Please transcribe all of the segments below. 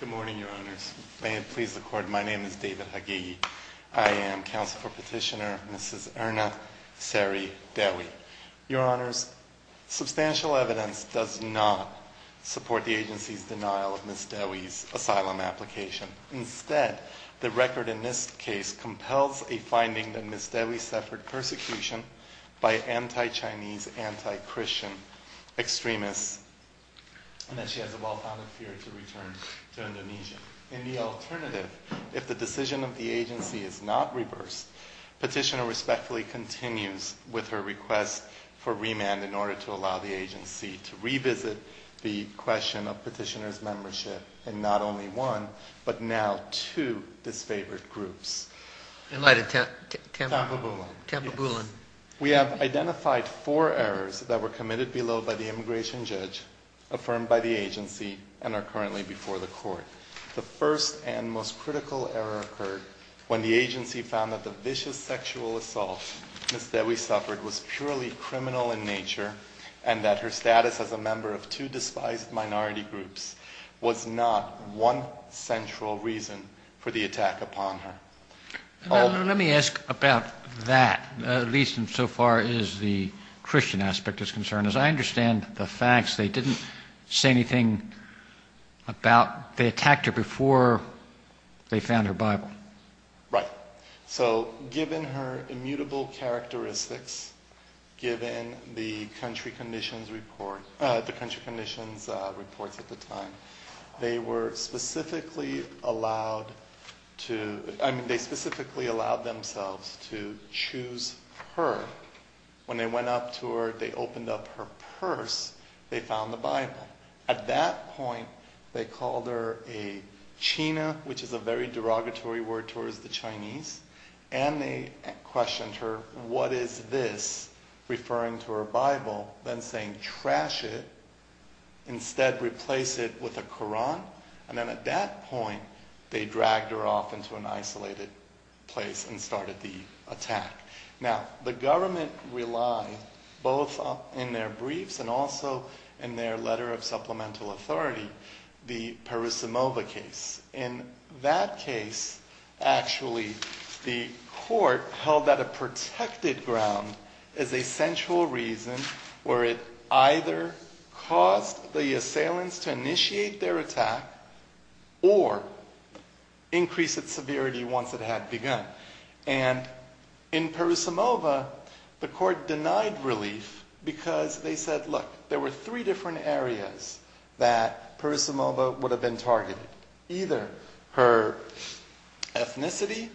Good morning, Your Honors. May it please the court, my name is David Hagegi. I am counsel for petitioner Mrs. Erna Seri Dewi. Your Honors, substantial evidence does not support the agency's denial of Ms. Dewi's asylum application. Instead, the record in this case compels a finding that Ms. Dewi suffered persecution by anti-Chinese, anti-Christian extremists, and that she has a well-founded fear to return to Indonesia. In the alternative, if the decision of the agency is not reversed, petitioner respectfully continues with her request for remand in order to allow the agency to revisit the question of petitioner's membership in not only one, but now two disfavored groups. In light of Tampa Boolan. We have identified four errors that were committed below by the immigration judge, affirmed by the agency, and are currently before the court. The first and most critical error occurred when the agency found that the vicious sexual assault Ms. Dewi suffered was purely criminal in nature, and that her status as a member of two despised minority groups was not one central reason for the attack upon her. Let me ask about that, at least insofar as the Christian aspect is concerned. As I understand the facts, they didn't say anything about, they attacked her before they found her Bible. Right. So given her immutable characteristics, given the country conditions report, the country conditions reports at the time, they were specifically allowed to, they specifically allowed themselves to choose her. When they went up to her, they opened up her purse, they found the Bible. At that point, they called her a china, which is a very derogatory word towards the Chinese. And they questioned her, what is this, referring to her Bible, then saying, trash it. Instead, replace it with a Quran. And then at that point, they dragged her off into an isolated place and started the attack. Now, the government relied, both in their briefs and also in their letter of supplemental authority, the Parisimova case. In that case, actually, the court held that a protected ground is a central reason where it either caused the assailants to initiate their attack or increase its severity once it had begun. And in Parisimova, the court denied relief because they said, look, there were three different areas that Parisimova would have been targeted, either her ethnicity,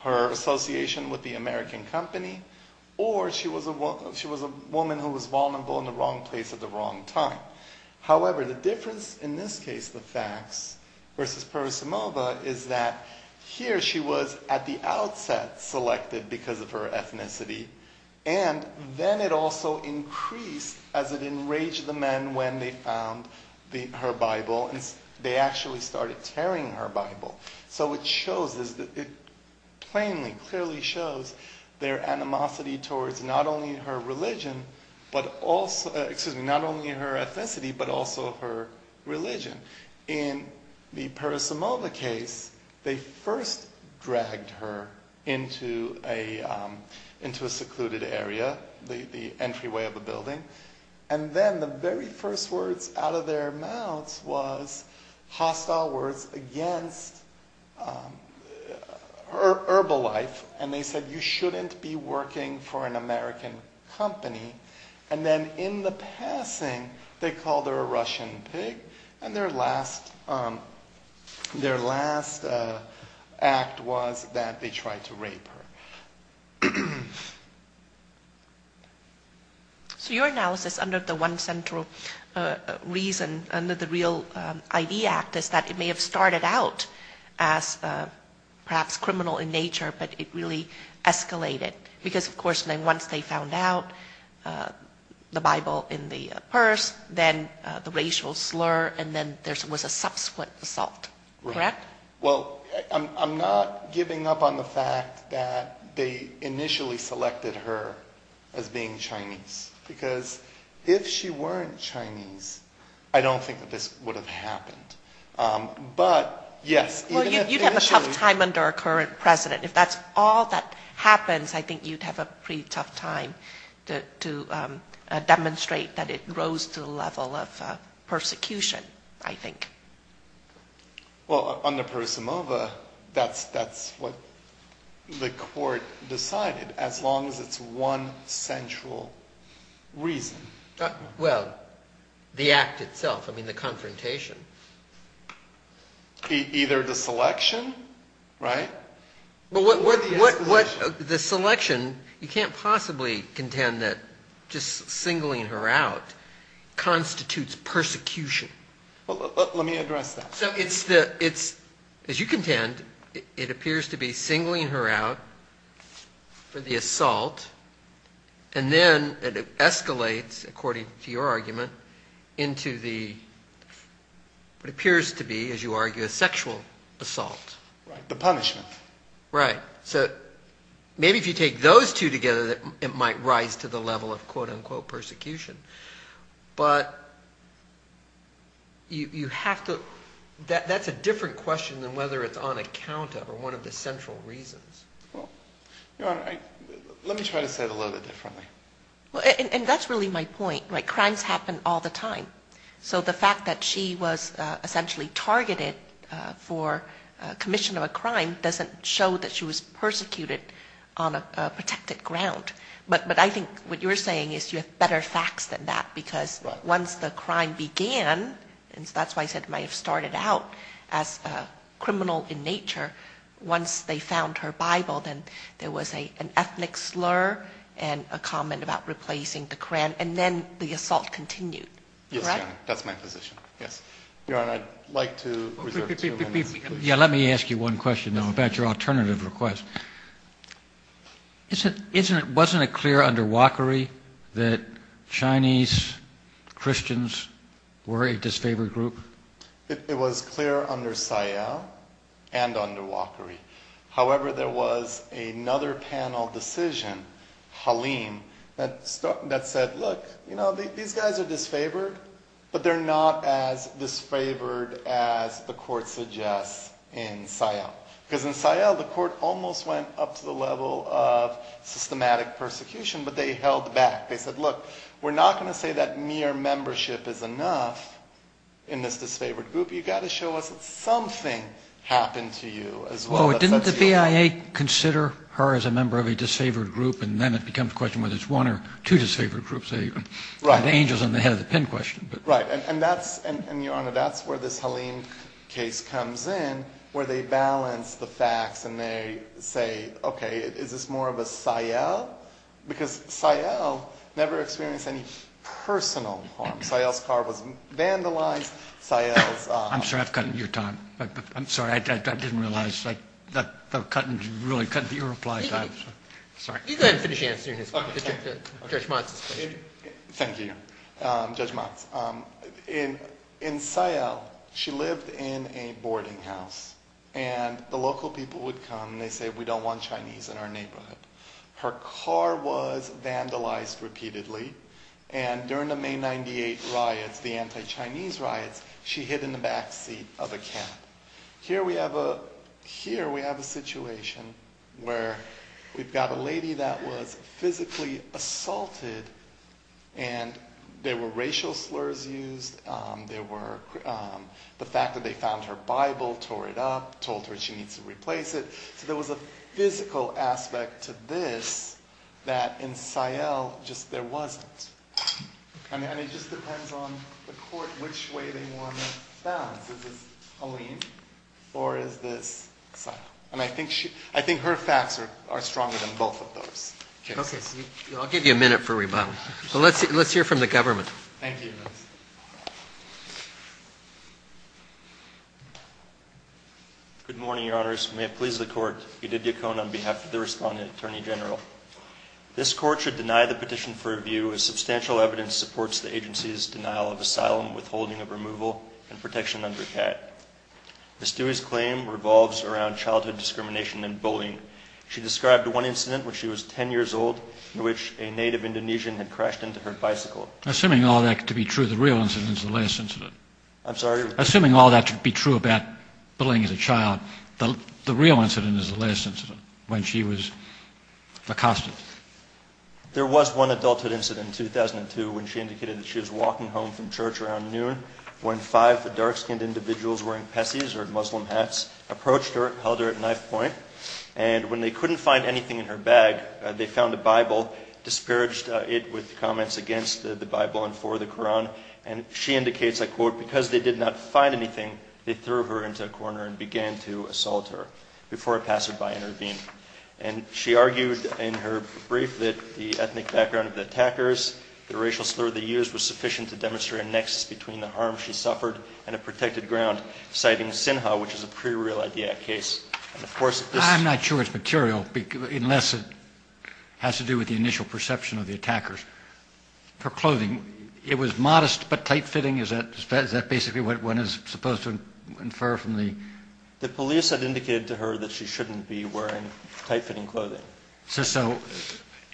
her association with the American company, or she was a woman who was vulnerable in the wrong place at the wrong time. However, the difference in this case, the facts versus Parisimova, is that here she was at the outset selected because of her ethnicity. And then it also increased as it enraged the men when they found her Bible. And they actually started tearing her Bible. So it shows, it plainly, clearly shows their animosity towards not only her religion, but also, excuse me, not only her ethnicity, but also her religion. In the Parisimova case, they first dragged her into a secluded area, the entryway of the building. And then the very first words out of their mouths was hostile words against her herbal life. And they said, you shouldn't be working for an American company. And then in the passing, they called her a Russian pig. And their last act was that they tried to rape her. So your analysis under the one central reason, under the Real ID Act, is that it may have started out as perhaps criminal in nature, but it really escalated. Because, of course, then once they found out the Bible in the purse, then the racial slur, and then there was a subsequent assault, correct? Well, I'm not giving up on the fact that they initially selected her as being Chinese. Because if she weren't Chinese, I don't think that this would have happened. But yes, even if initially- Well, you'd have a tough time under a current president. If that's all that happens, I think you'd have a pretty tough time to demonstrate that it rose to the level of persecution, I think. Well, under Persimova, that's what the court decided, as long as it's one central reason. Well, the act itself. I mean, the confrontation. Either the selection, right? Well, the selection, you can't possibly contend that just singling her out constitutes persecution. Let me address that. So it's, as you contend, it appears to be singling her out for the assault, and then it escalates, according to your argument, into what appears to be, as you argue, a sexual assault. The punishment. Right. So maybe if you take those two together, it might rise to the level of, quote unquote, persecution. But you have to, that's a different question than whether it's on account of, or one of the central reasons. Well, Your Honor, let me try to say it a little bit differently. And that's really my point. Crimes happen all the time. So the fact that she was essentially targeted for commission of a crime doesn't show that she was persecuted on a protected ground. But I think what you're saying is you have better facts than that. Because once the crime began, and that's why I said it might have started out as a criminal in nature, once they found her Bible, then there was an ethnic slur and a comment about replacing the Quran. And then the assault continued. Yes, Your Honor. That's my position. Yes. And I'd like to reserve two minutes. Yeah, let me ask you one question about your alternative request. Wasn't it clear under Wachery that Chinese Christians were a disfavored group? It was clear under Sayal and under Wachery. However, there was another panel decision, Halim, that said, look, these guys are disfavored, but they're not as disfavored as the court suggests in Sayal. Because in Sayal, the court almost went up to the level of systematic persecution, but they held back. They said, look, we're not going to say that mere membership is enough in this disfavored group. You've got to show us that something happened to you as well. Didn't the BIA consider her as a member of a disfavored group? And then it becomes a question whether it's one or two disfavored groups. The angel's on the head of the pen question. Right. And Your Honor, that's where this Halim case comes in, where they balance the facts. And they say, OK, is this more of a Sayal? Because Sayal never experienced any personal harm. Sayal's car was vandalized. I'm sorry, I've cut your time. I'm sorry, I didn't realize that the cut really cut your reply time. Sorry. You go ahead and finish answering Judge Motz's question. Thank you, Judge Motz. In Sayal, she lived in a boarding house. And the local people would come, and they say we don't want Chinese in our neighborhood. Her car was vandalized repeatedly. And during the May 98 riots, the anti-Chinese riots, she hid in the backseat of a cab. Here we have a situation where we've got a lady that was physically assaulted. And there were racial slurs used. There were the fact that they found her Bible, tore it up, told her she needs to replace it. So there was a physical aspect to this that in Sayal just there wasn't. And it just depends on the court which way they want to balance. Is this Halim, or is this Sayal? And I think her facts are stronger than both of those. OK, I'll give you a minute for rebuttal. Well, let's hear from the government. Thank you, Judge. Good morning, Your Honors. May it please the court. Edith Yacon on behalf of the respondent attorney general. This court should deny the petition for review as substantial evidence supports the agency's denial of asylum, withholding of removal, and protection under CAD. Ms. Dewey's claim revolves around childhood discrimination and bullying. She described one incident when she was 10 years old in which a native Indonesian had crashed into her bicycle. Assuming all that to be true, the real incident is the last incident. I'm sorry? Assuming all that to be true about bullying as a child, the real incident is the last incident when she was accosted. There was one adulthood incident in 2002 when she indicated that she was walking home from church around noon when five dark-skinned individuals wearing pesis, or Muslim hats, approached her and held her at knife point. And when they couldn't find anything in her bag, they found a Bible, disparaged it with comments against the Bible and for the Quran. And she indicates, I quote, because they did not find anything, they threw her into a corner and began to assault her before a passerby intervened. And she argued in her brief that the ethnic background of the attackers, the racial slur they used was sufficient to demonstrate a nexus between the harm she suffered and a protected ground, citing Sinha, which is a pre-real-IDIAC case. And of course, this is- I'm not sure it's material unless it has to do with the initial perception of the attackers. Her clothing, it was modest but tight-fitting. Is that basically what one is supposed to infer from the- The police had indicated to her that she shouldn't be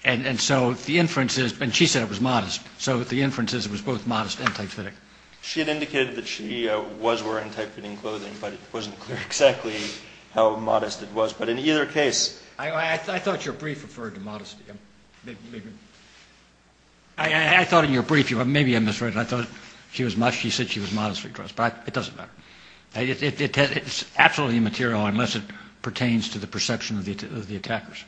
And so the inference is, and she said it was modest, so the inference is it was both modest and tight-fitting. She had indicated that she was wearing tight-fitting clothing but it wasn't clear exactly how modest it was. But in either case- I thought your brief referred to modesty. I thought in your brief, maybe I misread it. I thought she was, she said she was modestly dressed, but it doesn't matter. It's absolutely immaterial unless it pertains to the perception of the attackers.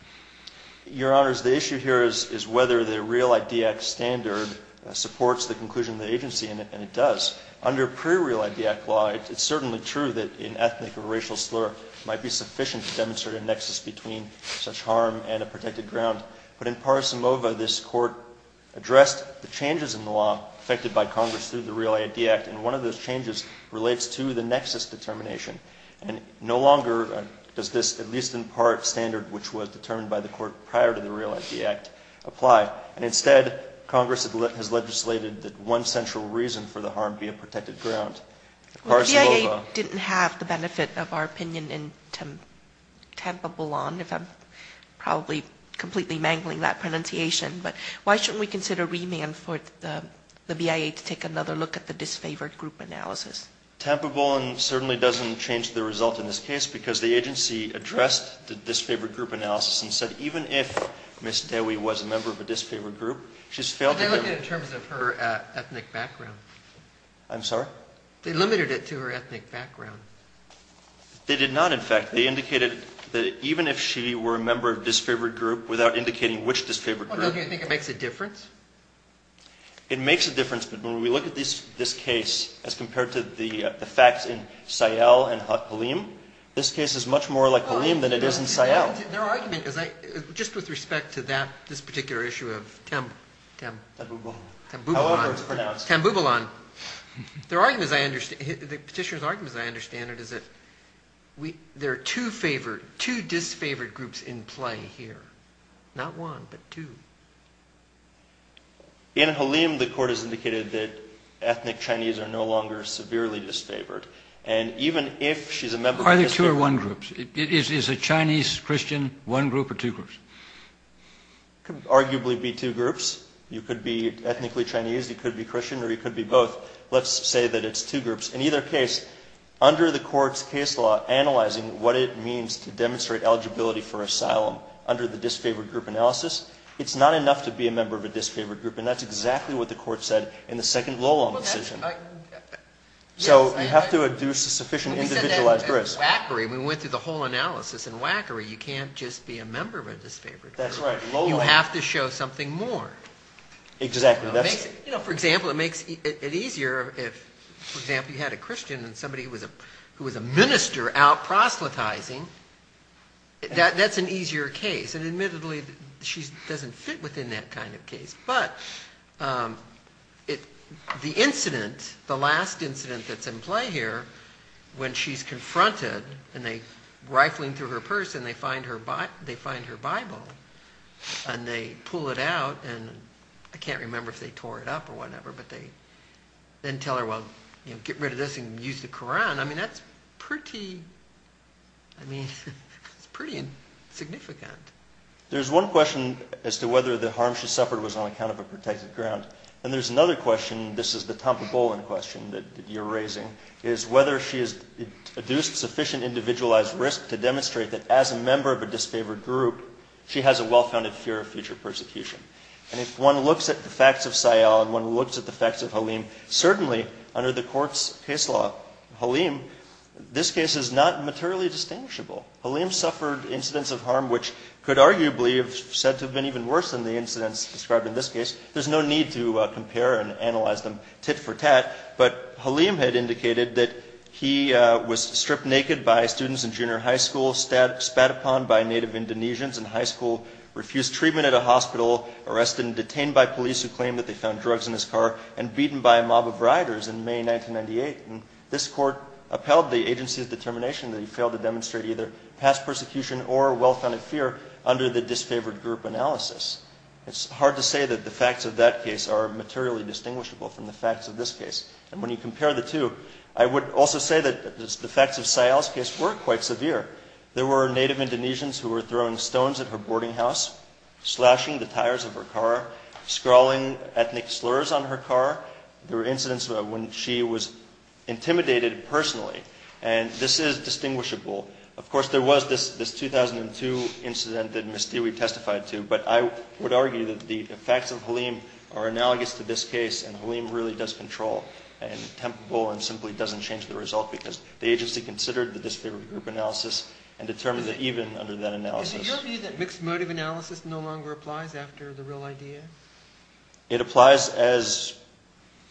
Your Honors, the issue here is whether the REAL-ID Act standard supports the conclusion of the agency, and it does. Under pre-REAL-ID Act law, it's certainly true that an ethnic or racial slur might be sufficient to demonstrate a nexus between such harm and a protected ground. But in Parsimova, this Court addressed the changes in the law affected by Congress through the REAL-ID Act, and one of those changes relates to the nexus determination. And no longer does this, at least in part, standard which was determined by the Court prior to the REAL-ID Act apply. And instead, Congress has legislated that one central reason for the harm be a protected ground. Parsimova- The BIA didn't have the benefit of our opinion in Tampa-Boulogne, if I'm probably completely mangling that pronunciation. But why shouldn't we consider remand for the BIA to take another look at the disfavored group analysis? Tampa-Boulogne certainly doesn't change the result in this case, because the agency addressed the disfavored group analysis and said, even if Ms. Dewey was a member of a disfavored group, she's failed to give- But they look at it in terms of her ethnic background. I'm sorry? They limited it to her ethnic background. They did not, in fact. They indicated that even if she were a member of a disfavored group, without indicating which disfavored group- Well, don't you think it makes a difference? It makes a difference, but when we look at this case as compared to the facts in Sayal and Halim, this case is much more like Halim than it is in Sayal. Their argument is, just with respect to that, this particular issue of Tam- Tam-Bouboulan. Tam-Bouboulan. However it's pronounced. Tam-Bouboulan. Their argument, the petitioner's argument, as I understand it, is that there are two favored, two disfavored groups in play here. Not one, but two. In Halim, the court has indicated that ethnic Chinese are no longer severely disfavored. And even if she's a member of a disfavored group- Are there two or one groups? Is a Chinese Christian one group or two groups? Could arguably be two groups. You could be ethnically Chinese, you could be Christian, or you could be both. Let's say that it's two groups. In either case, under the court's case law, analyzing what it means to demonstrate eligibility for asylum under the disfavored group analysis, it's not enough to be a member of a disfavored group. And that's exactly what the court said in the second low-law decision. So you have to adduce a sufficient individualized risk. When we went through the whole analysis in WACRI, you can't just be a member of a disfavored group. You have to show something more. Exactly. For example, it makes it easier if, for example, you had a Christian and somebody who was a minister out proselytizing, that's an easier case. And admittedly, she doesn't fit within that kind of case. But the incident, the last incident that's in play here, when she's confronted and they're rifling through her purse and they find her Bible and they pull it out. And I can't remember if they tore it up or whatever, but they then tell her, well, get rid of this and use the Quran. I mean, that's pretty, I mean, it's pretty insignificant. There's one question as to whether the harm she suffered was on account of a protected ground. And there's another question, this is the Tompabolan question that you're raising, is whether she has adduced sufficient individualized risk to demonstrate that as a member of a disfavored group, she has a well-founded fear of future persecution. And if one looks at the facts of Sayal and one looks at the facts of Halim, certainly under the court's case law, Halim, this case is not materially distinguishable. Halim suffered incidents of harm, which could arguably have said to have been even worse than the incidents described in this case. There's no need to compare and analyze them tit for tat, but Halim had indicated that he was stripped naked by students in junior high school, spat upon by native Indonesians in high school, refused treatment at a hospital, arrested and detained by police who claimed that they found drugs in his car, and beaten by a mob of riders in May, 1998. And this court upheld the agency's determination that he failed to demonstrate either past persecution or well-founded fear under the disfavored group analysis. It's hard to say that the facts of that case are materially distinguishable from the facts of this case. And when you compare the two, I would also say that the facts of Sayal's case were quite severe. There were native Indonesians who were throwing stones at her boarding house, slashing the tires of her car, scrawling ethnic slurs on her car. There were incidents when she was intimidated personally, and this is distinguishable. Of course, there was this 2002 incident that Ms. Dewi testified to, but I would argue that the facts of Halim are analogous to this case, and Halim really does control, and temptable, and simply doesn't change the result because the agency considered the disfavored group analysis, and determined that even under that analysis. Is it your view that mixed motive analysis no longer applies after the real idea? It applies as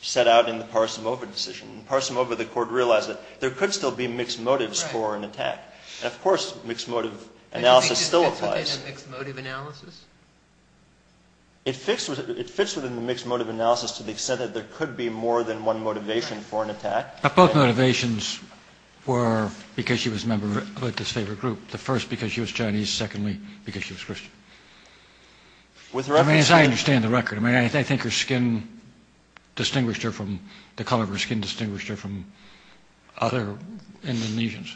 set out in the Parsimova decision. In Parsimova, the court realized that there could still be mixed motives for an attack. Of course, mixed motive analysis still applies. Do you think it fits within mixed motive analysis? It fits within the mixed motive analysis to the extent that there could be more than one motivation for an attack. But both motivations were because she was a member of a disfavored group. The first, because she was Chinese. Secondly, because she was Christian. With her record. I mean, as I understand the record, I mean, I think her skin distinguished her from the color of her skin distinguished her from other Indonesians.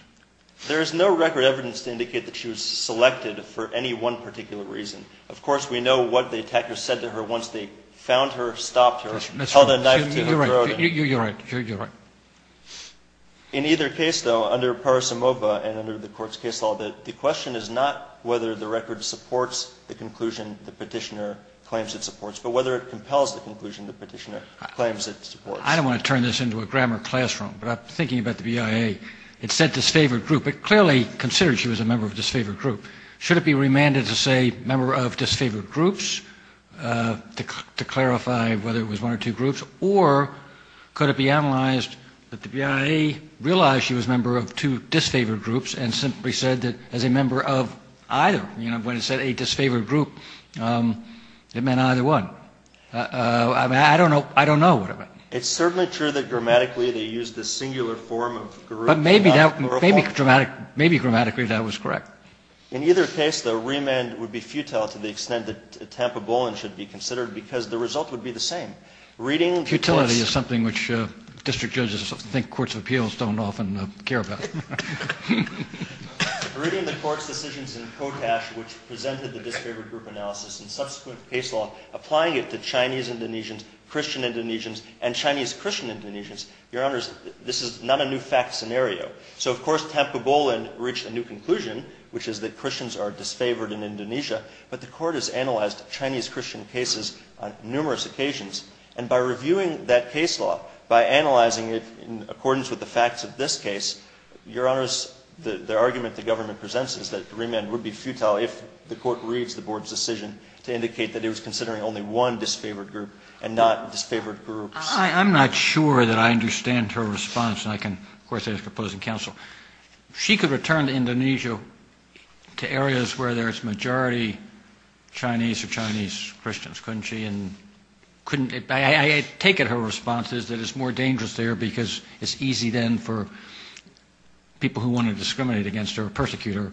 There is no record evidence to indicate that she was selected for any one particular reason. Of course, we know what the attackers said to her once they found her, stopped her, held a knife to her throat. You're right, you're right. In either case, though, under Parsimova and under the court's case law, the question is not whether the record supports the conclusion the petitioner claims it supports, but whether it compels the conclusion the petitioner claims it supports. I don't want to turn this into a grammar classroom, but I'm thinking about the BIA. It said disfavored group, but clearly considered she was a member of disfavored group. Should it be remanded to say member of disfavored groups? To clarify whether it was one or two groups, or could it be analyzed that the BIA realized she was a member of two disfavored groups and simply said that as a member of either, you know, when it said a disfavored group, it meant either one. I mean, I don't know, I don't know what it meant. It's certainly true that grammatically they used the singular form of group. But maybe grammatically that was correct. In either case, the remand would be futile to the extent that Tampabolan should be considered because the result would be the same. Reading the court's- Futility is something which district judges think courts of appeals don't often care about. Reading the court's decisions in Kotash, which presented the disfavored group analysis and subsequent case law, applying it to Chinese-Indonesians, Christian-Indonesians, and Chinese-Christian-Indonesians. Your honors, this is not a new fact scenario. So of course, Tampabolan reached a new conclusion, which is that Christians are disfavored in Indonesia, but the court has analyzed Chinese-Christian cases on numerous occasions. And by reviewing that case law, by analyzing it in accordance with the facts of this case, your honors, the argument the government presents is that remand would be futile if the court reads the board's decision to indicate that it was considering only one disfavored group and not disfavored groups. I'm not sure that I understand her response. And I can, of course, as a proposing counsel, she could return to Indonesia to areas where there's majority Chinese or Chinese-Christians, couldn't she? And I take it her response is that it's more dangerous there because it's easy then for people who wanna discriminate against her or persecute her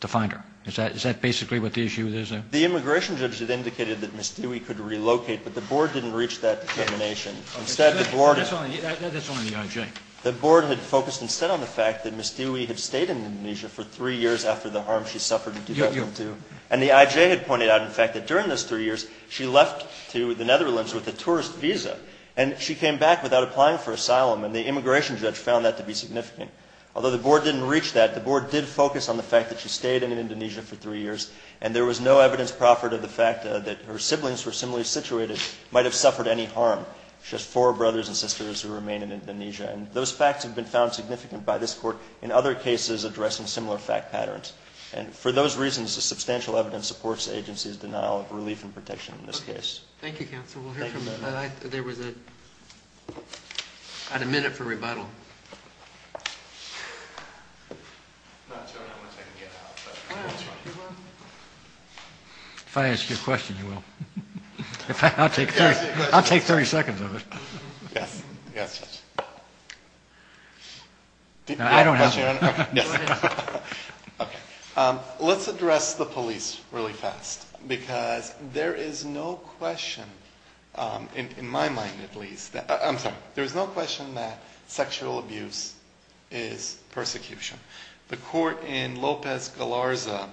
to find her. Is that basically what the issue is there? The immigration judge had indicated that Ms. Dewey could relocate, but the board didn't reach that determination. Instead, the board- That's only the IJ. The board had focused instead on the fact that Ms. Dewey had stayed in Indonesia for three years after the harm she suffered in 2002. And the IJ had pointed out, in fact, that during those three years, she left to the Netherlands with a tourist visa and she came back without applying for asylum. And the immigration judge found that to be significant. Although the board didn't reach that, the board did focus on the fact that she stayed in Indonesia for three years and there was no evidence proffered of the fact that her siblings were similarly situated, might have suffered any harm. She has four brothers and sisters who remain in Indonesia. And those facts have been found significant by this court in other cases addressing similar fact patterns. And for those reasons, the substantial evidence supports the agency's denial of relief and protection in this case. Thank you, counsel. We'll hear from- There was a minute for rebuttal. If I ask you a question, you will. In fact, I'll take 30 seconds of it. Yes. I don't have- Okay. Let's address the police really fast because there is no question in my mind, at least. I'm sorry. There is no question that sexual abuse is persecution. The court in Lopez Galarza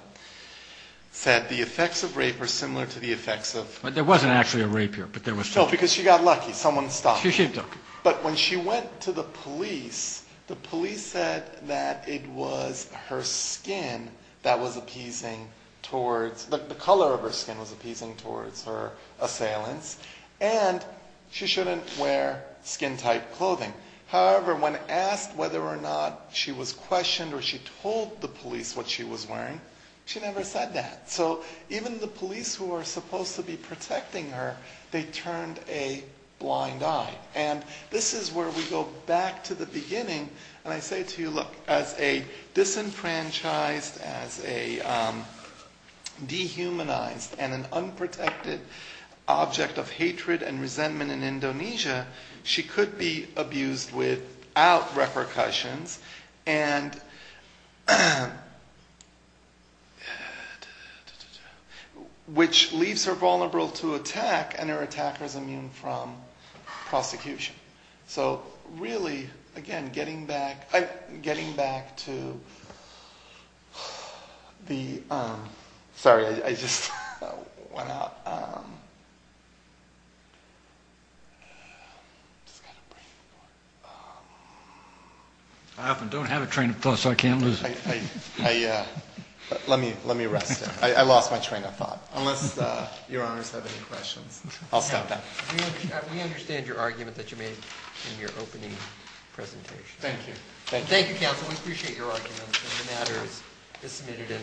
said the effects of rape are similar to the effects of- There wasn't actually a rape here, but there was- No, because she got lucky. Someone stopped her. But when she went to the police, the police said that it was her skin that was appeasing towards, the color of her skin was appeasing towards her assailants. And she shouldn't wear skin type clothing. However, when asked whether or not she was questioned or she told the police what she was wearing, she never said that. So even the police who are supposed to be protecting her, they turned a blind eye. And this is where we go back to the beginning. And I say to you, look, as a disenfranchised, as a dehumanized and an unprotected object of hatred and resentment in Indonesia, she could be abused without repercussions. And which leaves her vulnerable to attack and her attacker's immune from prosecution. So really, again, getting back to the, sorry, I just went out. I often don't have a train of thought, so I can't lose it. Let me rest there. I lost my train of thought. Unless your honors have any questions. I'll stop that. We understand your argument that you made in your opening presentation. Thank you. Thank you, counsel. We appreciate your argument. And the matter is submitted in.